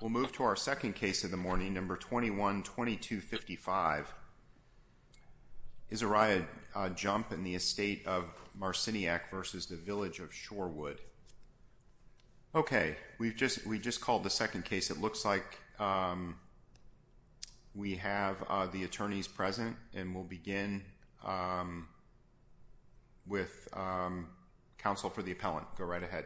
We'll move to our second case of the morning, number 21-2255. Izariah Jump and the estate of Marciniak v. Village of Shorewood. Okay, we've just called the second case. It looks like we have the attorneys present. And we'll begin with counsel for the appellant. Go right ahead.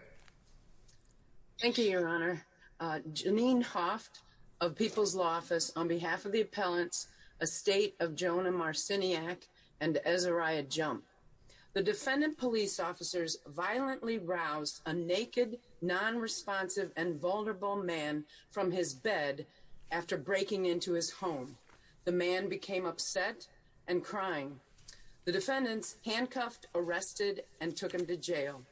Thank you, Your Honor. Janine Hoft of People's Law Office on behalf of the appellants, estate of Jonah Marciniak and Izariah Jump. The defendant police officers violently roused a naked, non-responsive, and vulnerable man from his bed after breaking into his home. The man became upset and crying. The defendants handcuffed, arrested, and took him to jail.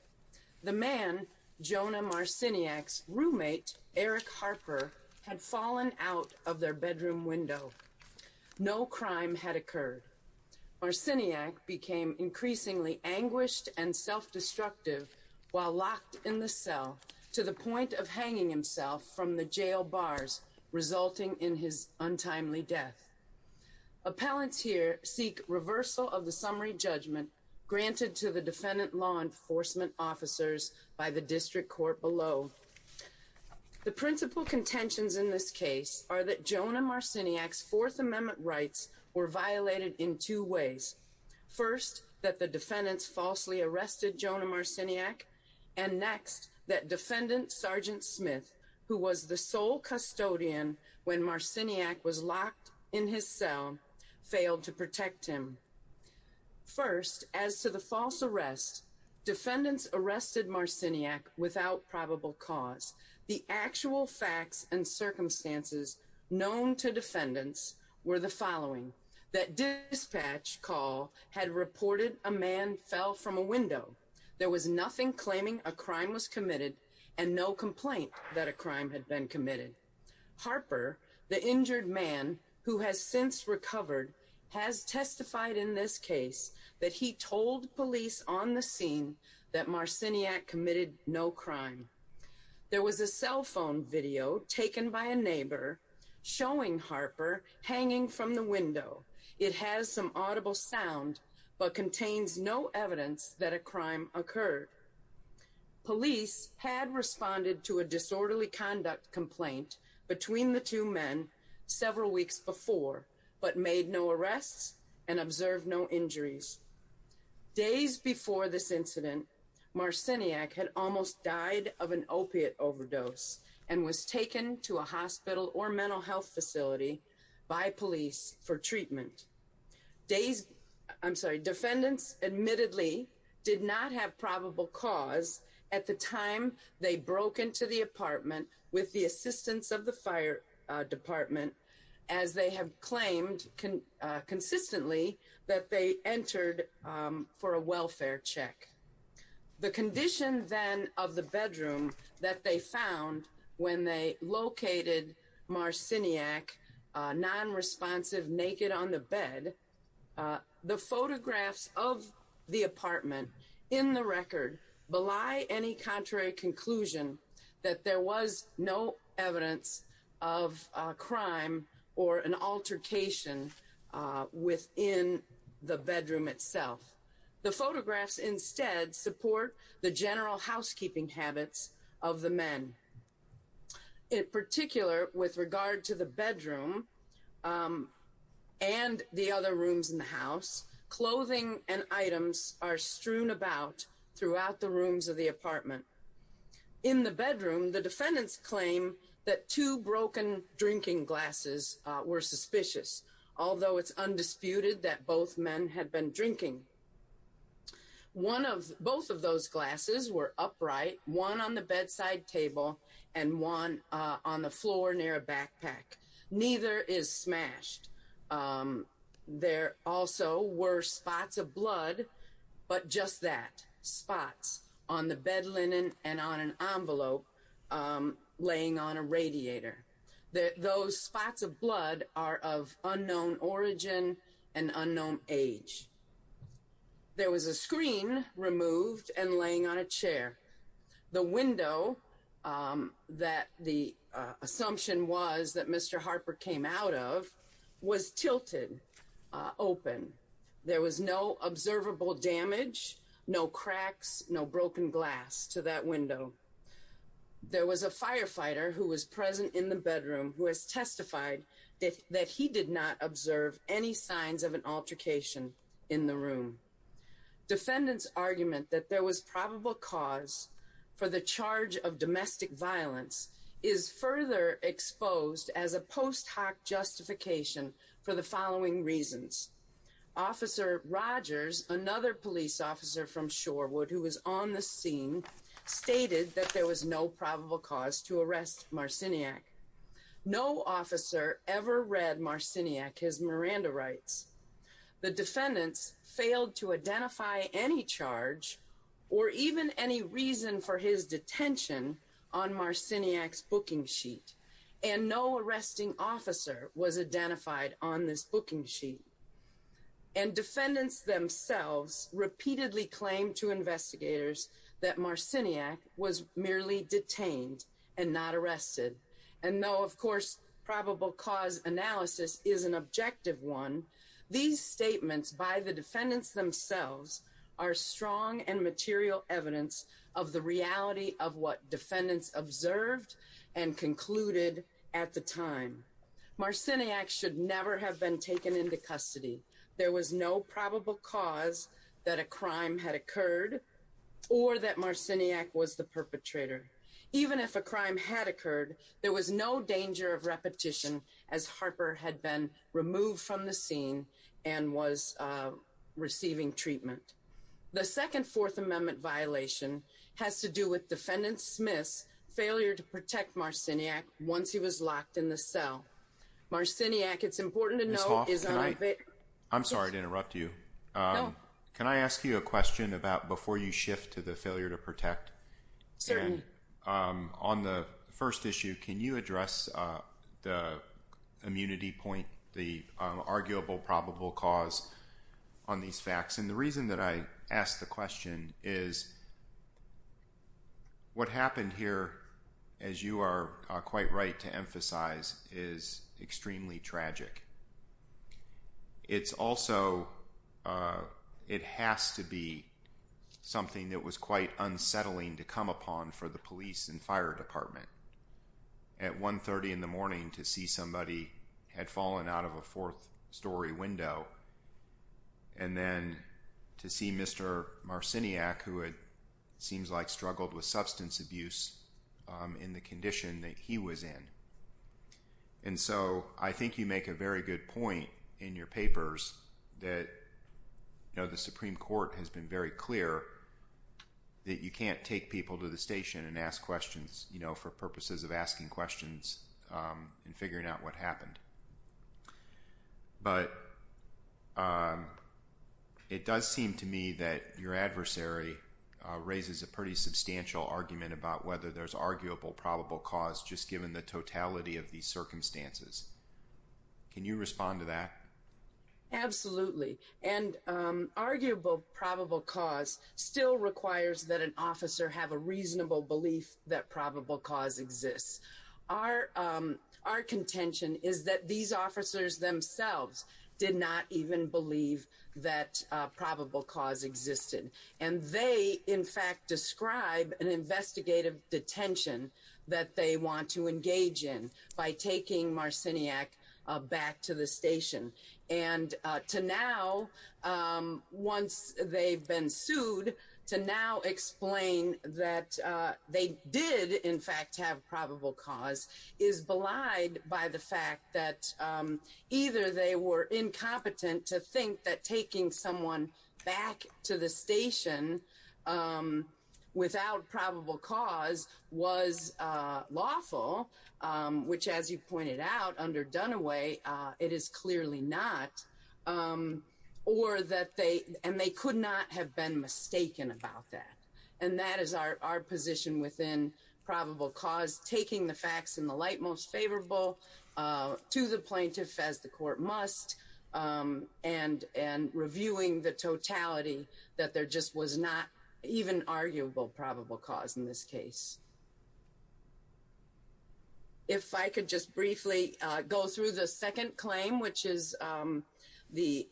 The man, Jonah Marciniak's roommate, Eric Harper, had fallen out of their bedroom window. No crime had occurred. Marciniak became increasingly anguished and self-destructive while locked in the cell to the point of hanging himself from the jail bars, resulting in his untimely death. Appellants here seek reversal of the summary judgment granted to the defendant law enforcement officers by the district court below. The principal contentions in this case are that Jonah Marciniak's Fourth Amendment rights were violated in two ways. First, that the defendants falsely arrested Jonah Marciniak. And next, that Defendant Sergeant Smith, who was the sole custodian when Marciniak was locked in his cell, failed to protect him. First, as to the false arrest, defendants arrested Marciniak without probable cause. The actual facts and circumstances known to defendants were the following. That dispatch call had reported a man fell from a window. There was nothing claiming a crime was committed and no complaint that a crime had been committed. Harper, the injured man who has since recovered, has testified in this case that he told police on the scene that Marciniak committed no crime. There was a cell phone video taken by a neighbor showing Harper hanging from the window. It has some audible sound, but contains no evidence that a crime occurred. Police had responded to a disorderly conduct complaint between the two men several weeks before, but made no arrests and observed no injuries. Days before this incident, Marciniak had almost died of an opiate overdose and was taken to a hospital or mental health facility by police for treatment. Defendants admittedly did not have probable cause at the time they broke into the apartment with the assistance of the fire department, as they have claimed consistently that they entered for a welfare check. The condition then of the bedroom that they found when they located Marciniak non-responsive, naked on the bed, the photographs of the apartment in the record belie any contrary conclusion that there was no evidence of a crime or an altercation within the bedroom itself. The photographs instead support the general housekeeping habits of the men. In particular, with regard to the bedroom and the other rooms in the house, clothing and items are strewn about throughout the rooms of the apartment. In the bedroom, the defendants claim that two broken drinking glasses were suspicious, although it's undisputed that both men had been drinking. Both of those glasses were upright, one on the bedside table and one on the floor near a backpack. Neither is smashed. There also were spots of blood, but just that, spots on the bed linen and on an envelope laying on a radiator. Those spots of blood are of unknown origin and unknown age. There was a screen removed and laying on a chair. The window that the assumption was that Mr. Harper came out of was tilted open. There was no observable damage, no cracks, no broken glass to that window. There was a firefighter who was present in the bedroom who has testified that he did not observe any signs of an altercation in the room. Defendants' argument that there was probable cause for the charge of domestic violence is further exposed as a post hoc justification for the following reasons. Officer Rogers, another police officer from Shorewood who was on the scene, stated that there was no probable cause to arrest Marciniak. No officer ever read Marciniak his Miranda rights. The defendants failed to identify any charge or even any reason for his detention on Marciniak's booking sheet. And no arresting officer was identified on this booking sheet. And defendants themselves repeatedly claimed to investigators that Marciniak was merely detained and not arrested. And no, of course, probable cause analysis is an objective one. These statements by the defendants themselves are strong and material evidence of the reality of what defendants observed and concluded at the time. Marciniak should never have been taken into custody. There was no probable cause that a crime had occurred or that Marciniak was the perpetrator. Even if a crime had occurred, there was no danger of repetition as Harper had been removed from the scene and was receiving treatment. The second Fourth Amendment violation has to do with Defendant Smith's failure to protect Marciniak once he was locked in the cell. Marciniak, it's important to note, is on a vacation. I'm sorry to interrupt you. Can I ask you a question about before you shift to the failure to protect? Certainly. On the first issue, can you address the immunity point, the arguable probable cause on these facts? And the reason that I ask the question is what happened here, as you are quite right to emphasize, is extremely tragic. It's also, it has to be something that was quite unsettling to come upon for the police and fire department. At 1.30 in the morning to see somebody had fallen out of a fourth story window and then to see Mr. Marciniak, who it seems like struggled with substance abuse in the condition that he was in. And so I think you make a very good point in your papers that the Supreme Court has been very clear that you can't take people to the station and ask questions for purposes of asking questions and figuring out what happened. But it does seem to me that your adversary raises a pretty substantial argument about whether there's arguable probable cause just given the totality of these circumstances. Can you respond to that? Absolutely. And arguable probable cause still requires that an officer have a reasonable belief that probable cause exists. Our contention is that these officers themselves did not even believe that probable cause existed. And they, in fact, describe an investigative detention that they want to engage in by taking Marciniak back to the station. And to now, once they've been sued, to now explain that they did, in fact, have probable cause is belied by the fact that either they were incompetent to think that taking someone back to the station without probable cause was lawful, which, as you pointed out, under Dunaway, it is clearly not, and they could not have been mistaken about that. And that is our position within probable cause, taking the facts in the light most favorable to the plaintiff as the court must and reviewing the totality that there just was not even arguable probable cause in this case. If I could just briefly go through the second claim, which is the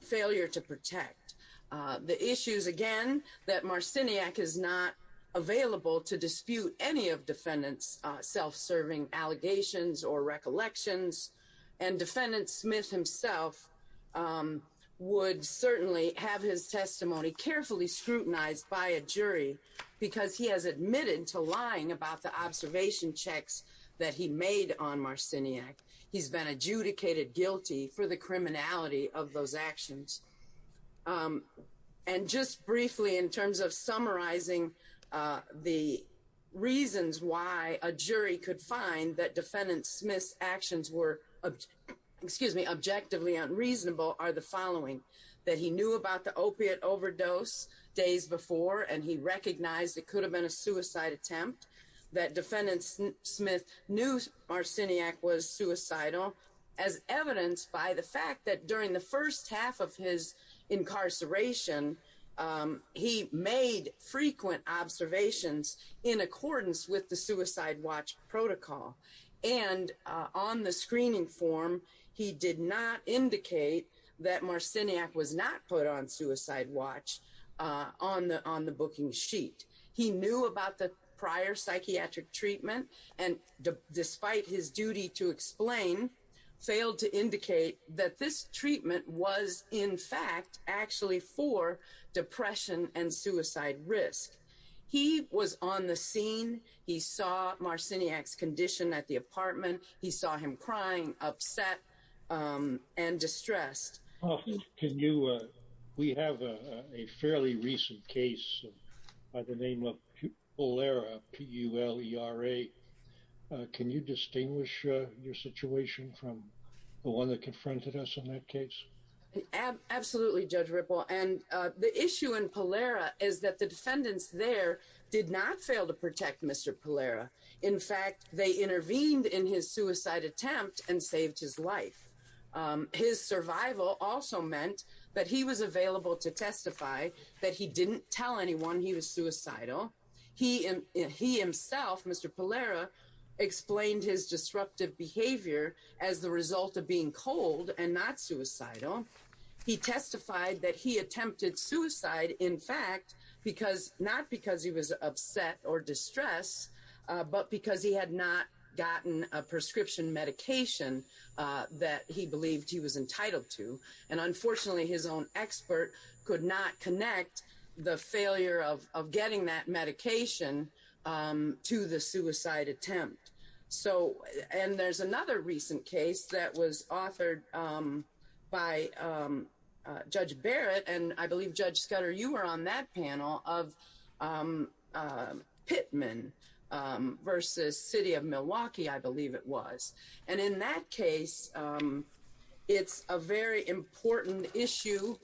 failure to protect the issues, again, that Marciniak is not available to dispute any of defendants' self-serving allegations or recollections. And defendant Smith himself would certainly have his testimony carefully scrutinized by a jury because he has admitted to lying about the observation checks that he made on Marciniak. He's been adjudicated guilty for the criminality of those actions. And just briefly, in terms of summarizing the reasons why a jury could find that defendant Smith's actions were, excuse me, objectively unreasonable, are the following. That he knew about the opiate overdose days before and he recognized it could have been a suicide attempt. That defendant Smith knew Marciniak was suicidal as evidenced by the fact that during the first half of his incarceration, he made frequent observations in accordance with the suicide watch protocol. And on the screening form, he did not indicate that Marciniak was not put on suicide watch on the booking sheet. He knew about the prior psychiatric treatment and despite his duty to explain, failed to indicate that this treatment was in fact actually for depression and suicide risk. He was on the scene. He saw Marciniak's condition at the apartment. He saw him crying, upset and distressed. Can you, we have a fairly recent case by the name of Pulera, P-U-L-E-R-A. Can you distinguish your situation from the one that confronted us in that case? Absolutely, Judge Ripple. And the issue in Pulera is that the defendants there did not fail to protect Mr. Pulera. In fact, they intervened in his suicide attempt and saved his life. His survival also meant that he was available to testify that he didn't tell anyone he was suicidal. He himself, Mr. Pulera, explained his disruptive behavior as the result of being cold and not suicidal. He testified that he attempted suicide, in fact, not because he was upset or distressed, but because he had not gotten a prescription medication that he believed he was entitled to. And unfortunately, his own expert could not connect the failure of getting that medication to the suicide attempt. So, and there's another recent case that was authored by Judge Barrett. And I believe, Judge Scudder, you were on that panel of Pittman versus City of Milwaukee, I believe it was. And in that case, it's a very important issue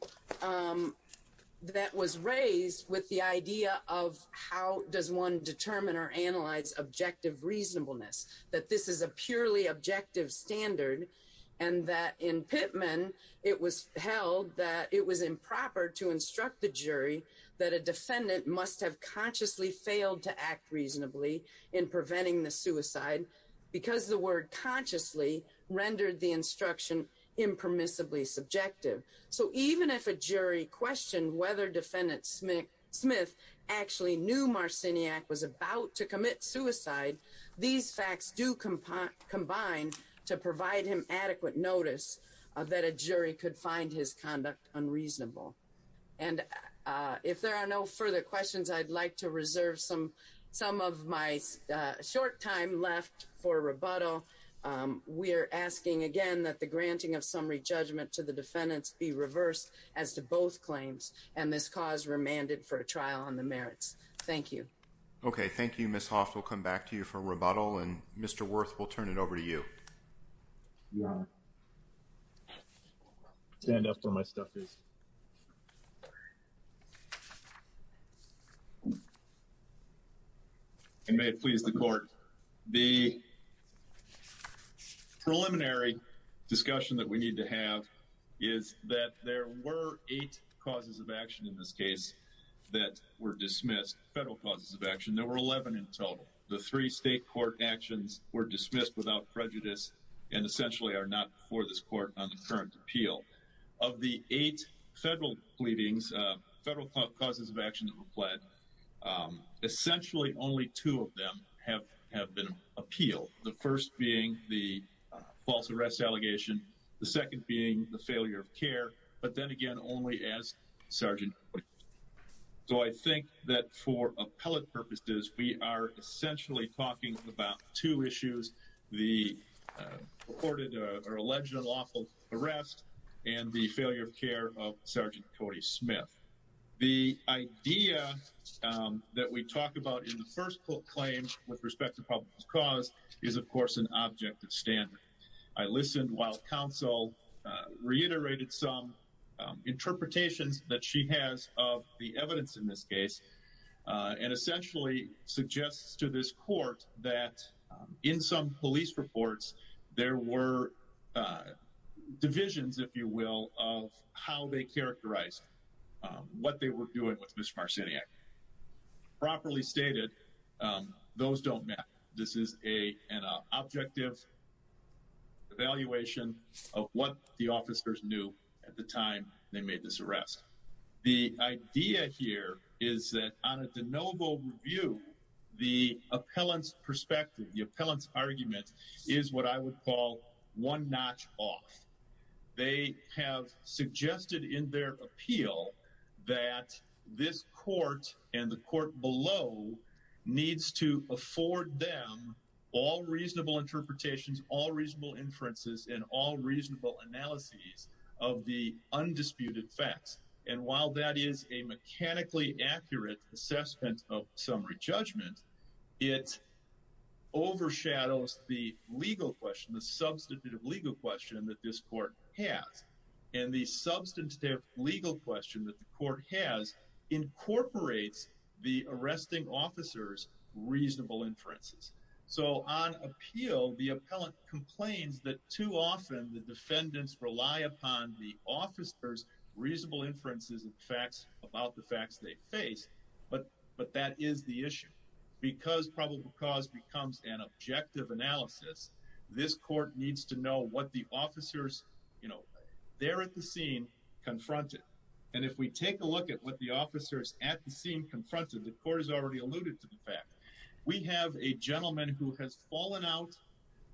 that was raised with the idea of how does one determine or analyze objective reasonableness, that this is a purely objective standard. And that in Pittman, it was held that it was improper to instruct the jury that a defendant must have consciously failed to act reasonably in preventing the suicide. Because the word consciously rendered the instruction impermissibly subjective. So even if a jury questioned whether defendant Smith actually knew Marciniak was about to commit suicide, these facts do combine to provide him adequate notice that a jury could find his conduct unreasonable. And if there are no further questions, I'd like to reserve some of my short time left for rebuttal. We're asking again that the granting of summary judgment to the defendants be reversed as to both claims. And this cause remanded for a trial on the merits. Thank you. Okay, thank you, Ms. Hoff. We'll come back to you for rebuttal. And Mr. Wirth, we'll turn it over to you. Yeah. Stand up where my stuff is. And may it please the court. The preliminary discussion that we need to have is that there were eight causes of action in this case that were dismissed, federal causes of action. There were 11 in total. The three state court actions were dismissed without prejudice and essentially are not before this court on the current appeal. Of the eight federal pleadings, federal causes of action that were pled, essentially only two of them have been appealed. The first being the false arrest allegation. The second being the failure of care. But then again, only as sergeant. So I think that for appellate purposes, we are essentially talking about two issues. The reported or alleged unlawful arrest and the failure of care of Sergeant Cody Smith. The idea that we talk about in the first claim with respect to public cause is, of course, an object of standard. I listened while counsel reiterated some interpretations that she has of the evidence in this case. And essentially suggests to this court that in some police reports, there were divisions, if you will, of how they characterized what they were doing with Mr. Evaluation of what the officers knew at the time they made this arrest. The idea here is that on a de novo review, the appellant's perspective, the appellant's argument is what I would call one notch off. They have suggested in their appeal that this court and the court below needs to afford them all reasonable interpretations, all reasonable inferences and all reasonable analyses of the undisputed facts. And while that is a mechanically accurate assessment of summary judgment, it overshadows the legal question, the substantive legal question that this court has. And the substantive legal question that the court has incorporates the arresting officers reasonable inferences. So on appeal, the appellant complains that too often the defendants rely upon the officers reasonable inferences and facts about the facts they face. But that is the issue. Because probable cause becomes an objective analysis, this court needs to know what the officers, you know, there at the scene confronted. And if we take a look at what the officers at the scene confronted, the court has already alluded to the fact we have a gentleman who has fallen out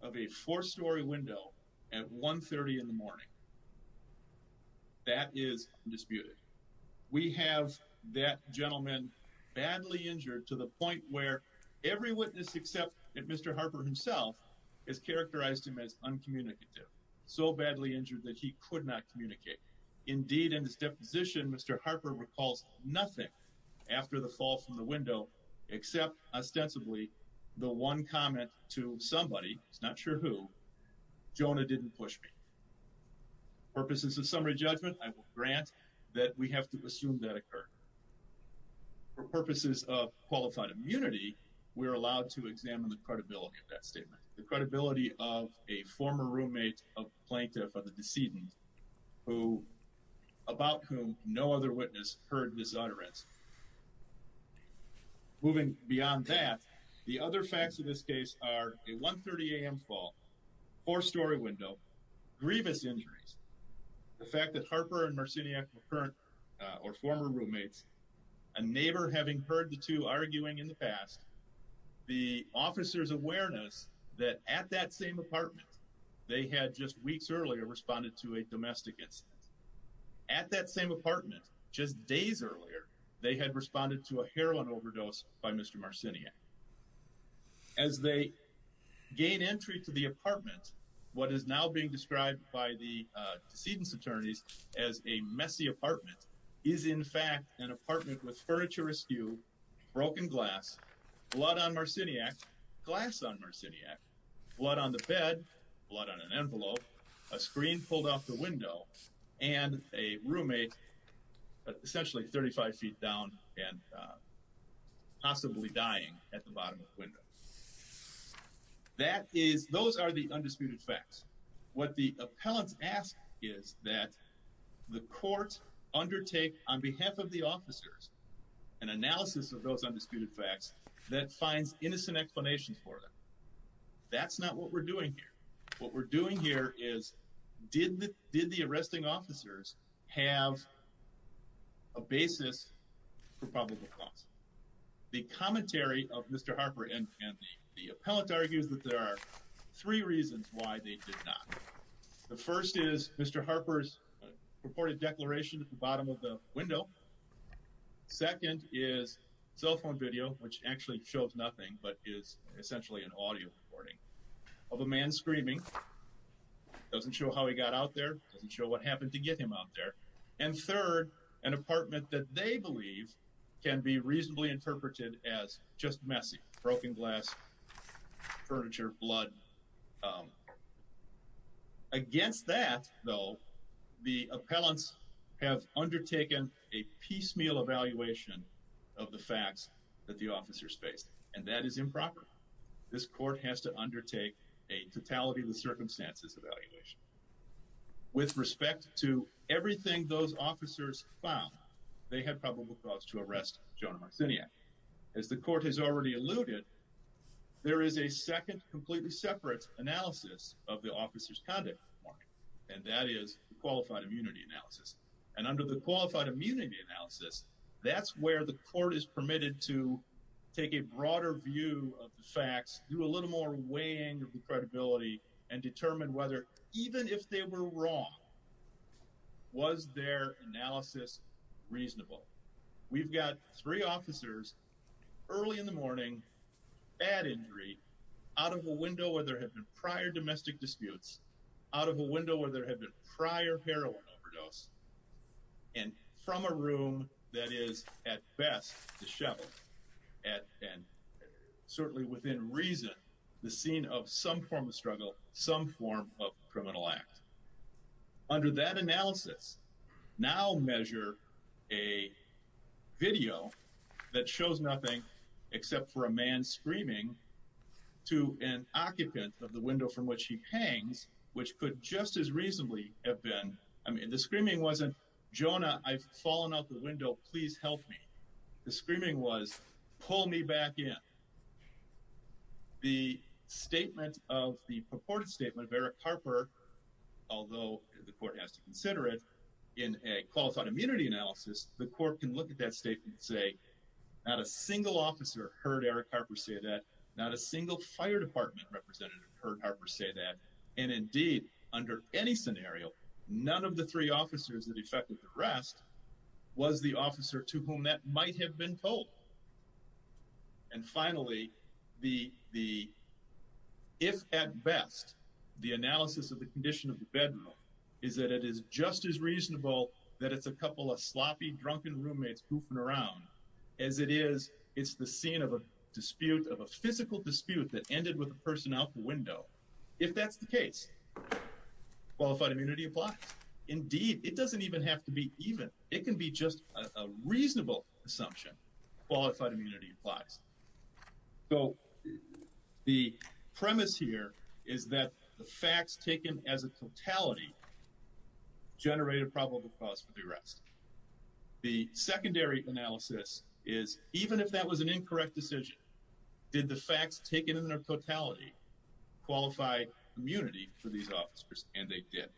of a four story window at 130 in the morning. That is disputed. We have that gentleman badly injured to the point where every witness except Mr. Harper himself has characterized him as uncommunicative. So badly injured that he could not communicate. Indeed, in his deposition, Mr. Harper recalls nothing after the fall from the window except ostensibly the one comment to somebody, not sure who, Jonah didn't push me. For purposes of summary judgment, I will grant that we have to assume that occurred. For purposes of qualified immunity, we are allowed to examine the credibility of that statement. The credibility of a former roommate of the plaintiff of the decedent about whom no other witness heard his utterance. Moving beyond that, the other facts of this case are a 1.30 a.m. fall, four story window, grievous injuries. The fact that Harper and Marciniak were current or former roommates, a neighbor having heard the two arguing in the past, the officer's awareness that at that same apartment they had just weeks earlier responded to a domestic incident. At that same apartment, just days earlier, they had responded to a heroin overdose by Mr. Marciniak. As they gain entry to the apartment, what is now being described by the decedent's attorneys as a messy apartment is in fact an apartment with furniture askew, broken glass, blood on Marciniak, glass on Marciniak, blood on the bed, blood on an envelope, a screen pulled off the window, and a roommate essentially 35 feet down and possibly dying at the bottom of the window. Those are the undisputed facts. What the appellants ask is that the court undertake on behalf of the officers an analysis of those undisputed facts that finds innocent explanations for them. That's not what we're doing here. What we're doing here is did the arresting officers have a basis for probable cause? The commentary of Mr. Harper and the appellant argues that there are three reasons why they did not. The first is Mr. Harper's purported declaration at the bottom of the window. Second is cell phone video, which actually shows nothing but is essentially an audio recording of a man screaming. Doesn't show how he got out there, doesn't show what happened to get him out there. And third, an apartment that they believe can be reasonably interpreted as just messy, broken glass, furniture, blood. Against that, though, the appellants have undertaken a piecemeal evaluation of the facts that the officers faced, and that is improper. This court has to undertake a totality of the circumstances evaluation. With respect to everything those officers found, they had probable cause to arrest Jonah Marciniak. As the court has already alluded, there is a second completely separate analysis of the officers' conduct, and that is qualified immunity analysis. And under the qualified immunity analysis, that's where the court is permitted to take a broader view of the facts, do a little more weighing of the credibility, and determine whether, even if they were wrong, was their analysis reasonable. We've got three officers, early in the morning, bad injury, out of a window where there had been prior domestic disputes, out of a window where there had been prior heroin overdose, and from a room that is, at best, disheveled. And certainly within reason, the scene of some form of struggle, some form of criminal act. Under that analysis, now measure a video that shows nothing except for a man screaming to an occupant of the window from which he hangs, which could just as reasonably have been, I mean, the screaming wasn't, Jonah, I've fallen out the window, please help me. The screaming was, pull me back in. The statement of, the purported statement of Eric Carper, although the court has to consider it, in a qualified immunity analysis, the court can look at that statement and say, not a single officer heard Eric Carper say that, not a single fire department representative heard Carper say that, and indeed, under any scenario, none of the three officers that effected the arrest was the officer to whom that might have been told. And finally, the, if at best, the analysis of the condition of the bedroom, is that it is just as reasonable that it's a couple of sloppy drunken roommates goofing around, as it is, it's the scene of a dispute, of a physical dispute that ended with a person out the window. If that's the case, qualified immunity applies. Indeed, it doesn't even have to be even, it can be just a reasonable assumption. Again, qualified immunity applies. So, the premise here is that the facts taken as a totality generated probable cause for the arrest. The secondary analysis is, even if that was an incorrect decision, did the facts taken in their totality qualify immunity for these officers? And they did.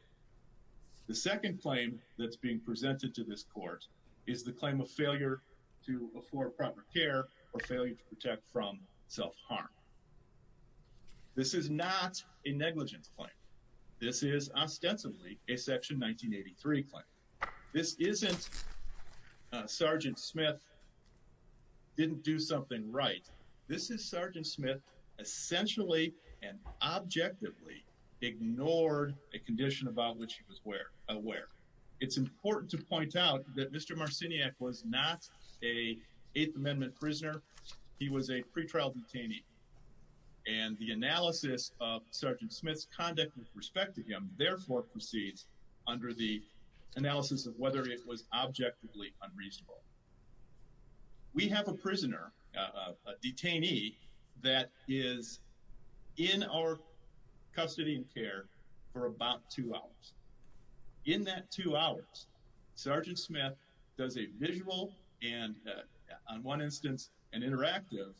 The second claim that's being presented to this court is the claim of failure to afford proper care, or failure to protect from self-harm. This is not a negligence claim. This is, ostensibly, a Section 1983 claim. This isn't, Sergeant Smith didn't do something right. This is Sergeant Smith essentially and objectively ignored a condition about which he was aware. It's important to point out that Mr. Marciniak was not an Eighth Amendment prisoner. He was a pretrial detainee. And the analysis of Sergeant Smith's conduct with respect to him, therefore, proceeds under the analysis of whether it was objectively unreasonable. We have a prisoner, a detainee, that is in our custody and care for about two hours. In that two hours, Sergeant Smith does a visual and, on one instance, an interactive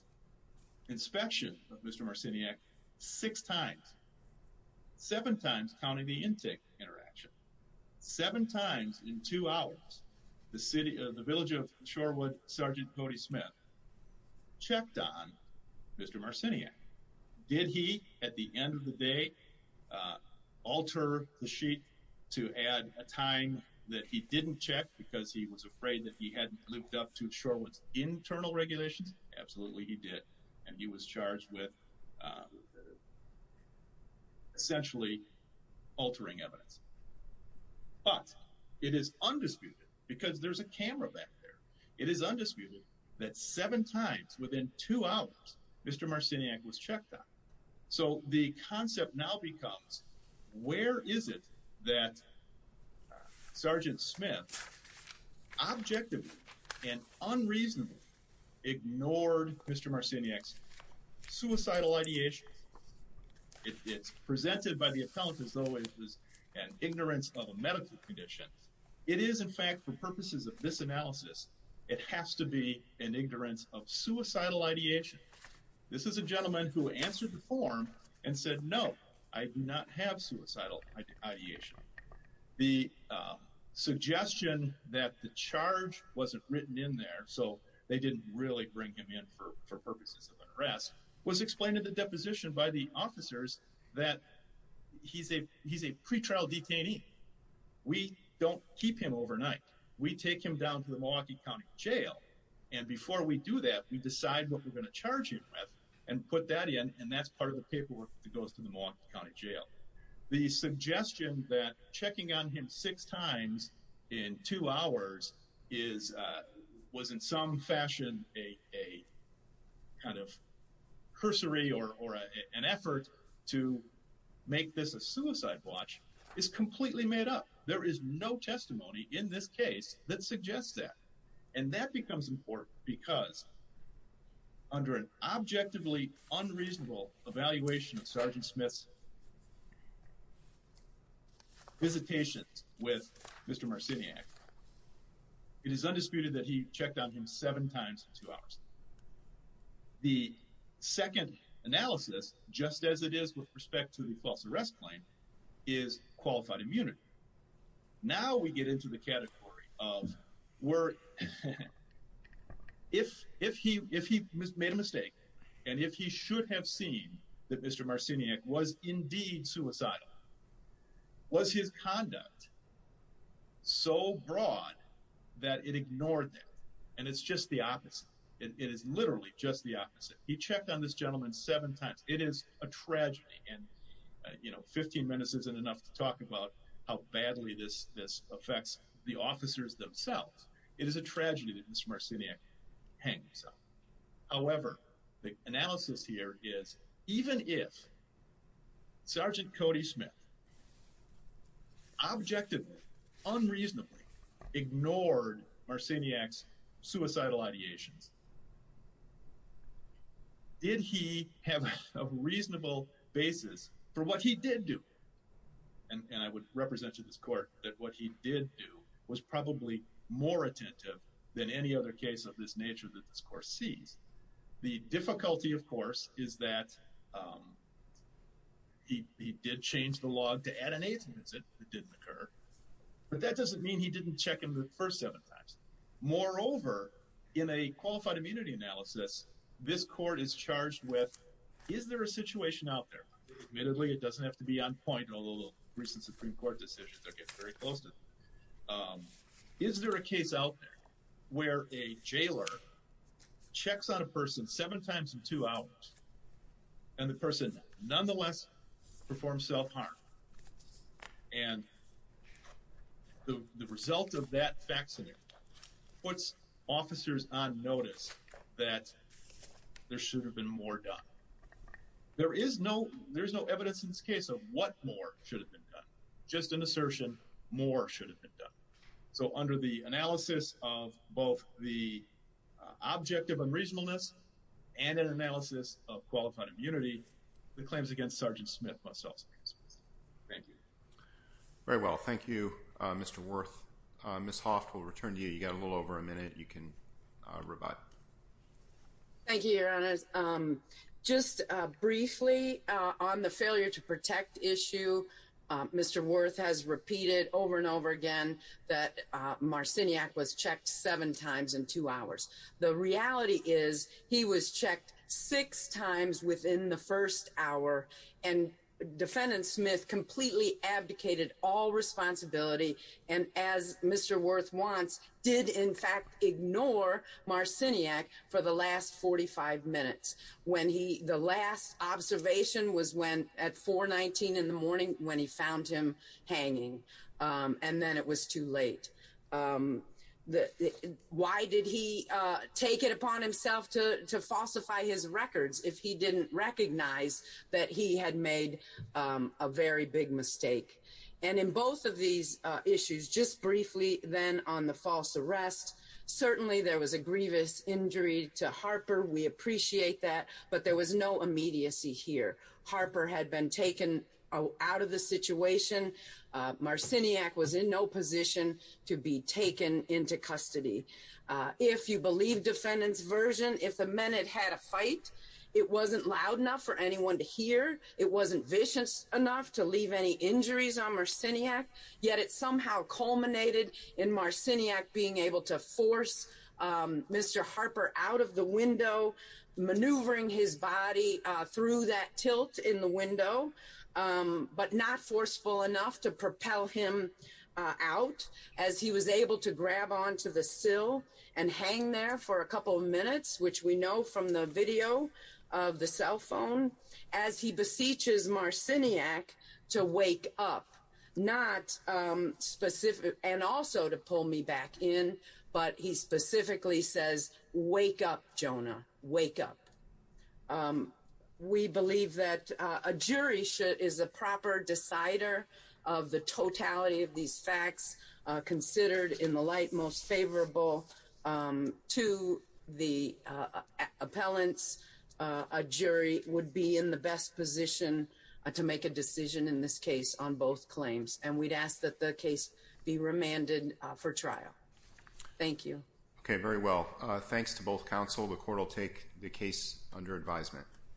inspection of Mr. Marciniak six times. Seven times counting the intake interaction. Seven times in two hours, the Village of Shorewood Sergeant Cody Smith checked on Mr. Marciniak. Did he, at the end of the day, alter the sheet to add a time that he didn't check because he was afraid that he hadn't lived up to Shorewood's internal regulations? Absolutely, he did. And he was charged with essentially altering evidence. But it is undisputed, because there's a camera back there, it is undisputed that seven times within two hours Mr. Marciniak was checked on. So the concept now becomes, where is it that Sergeant Smith objectively and unreasonably ignored Mr. Marciniak's suicidal ideation? It's presented by the appellant as though it was an ignorance of a medical condition. It is, in fact, for purposes of this analysis, it has to be an ignorance of suicidal ideation. This is a gentleman who answered the form and said, no, I do not have suicidal ideation. The suggestion that the charge wasn't written in there, so they didn't really bring him in for purposes of an arrest, was explained in the deposition by the officers that he's a pretrial detainee. We don't keep him overnight. We take him down to the Milwaukee County Jail. And before we do that, we decide what we're going to charge him with and put that in. And that's part of the paperwork that goes to the Milwaukee County Jail. The suggestion that checking on him six times in two hours was in some fashion a kind of cursory or an effort to make this a suicide watch is completely made up. There is no testimony in this case that suggests that. And that becomes important because under an objectively unreasonable evaluation of Sergeant Smith's visitation with Mr. Marciniak, it is undisputed that he checked on him seven times in two hours. The second analysis, just as it is with respect to the false arrest claim, is qualified immunity. Now we get into the category of where if he made a mistake and if he should have seen that Mr. Marciniak was indeed suicidal, was his conduct so broad that it ignored that? And it's just the opposite. It is literally just the opposite. He checked on this gentleman seven times. It is a tragedy and, you know, 15 minutes isn't enough to talk about how badly this affects the officers themselves. It is a tragedy that Mr. Marciniak hangs up. However, the analysis here is even if Sergeant Cody Smith objectively, unreasonably ignored Marciniak's suicidal ideations, did he have a reasonable basis for what he did do? And I would represent to this court that what he did do was probably more attentive than any other case of this nature that this court sees. The difficulty, of course, is that he did change the log to add an eighth visit. It didn't occur. But that doesn't mean he didn't check him the first seven times. Moreover, in a qualified immunity analysis, this court is charged with, is there a situation out there? Admittedly, it doesn't have to be on point, although recent Supreme Court decisions are getting very close to it. Is there a case out there where a jailer checks on a person seven times in two hours and the person nonetheless performs self-harm? And the result of that facsimile puts officers on notice that there should have been more done. There is no evidence in this case of what more should have been done. Just an assertion, more should have been done. So under the analysis of both the objective unreasonableness and an analysis of qualified immunity, the claims against Sergeant Smith must also be dismissed. Thank you. Very well. Thank you, Mr. Wirth. Ms. Hoft, we'll return to you. You've got a little over a minute. You can rebut. Thank you, Your Honors. Just briefly on the failure to protect issue, Mr. Wirth has repeated over and over again that Marciniak was checked seven times in two hours. The reality is he was checked six times within the first hour, and Defendant Smith completely abdicated all responsibility and, as Mr. Wirth wants, did in fact ignore Marciniak for the last 45 minutes. The last observation was at 419 in the morning when he found him hanging, and then it was too late. Why did he take it upon himself to falsify his records if he didn't recognize that he had made a very big mistake? And in both of these issues, just briefly then on the false arrest, certainly there was a grievous injury to Harper. We appreciate that, but there was no immediacy here. Harper had been taken out of the situation. Marciniak was in no position to be taken into custody. If you believe Defendant's version, if the men had had a fight, it wasn't loud enough for anyone to hear. It wasn't vicious enough to leave any injuries on Marciniak, yet it somehow culminated in Marciniak being able to force Mr. Harper out of the window, maneuvering his body through that tilt in the window, but not forceful enough to propel him out, as he was able to grab onto the sill and hang there for a couple of minutes, which we know from the video of the cell phone, as he beseeches Marciniak to wake up, and also to pull me back in, but he specifically says, wake up, Jonah, wake up. We believe that a jury is a proper decider of the totality of these facts, considered in the light most favorable to the appellants. A jury would be in the best position to make a decision in this case on both claims, and we'd ask that the case be remanded for trial. Thank you. Okay, very well. Thanks to both counsel. The court will take the case under advisement.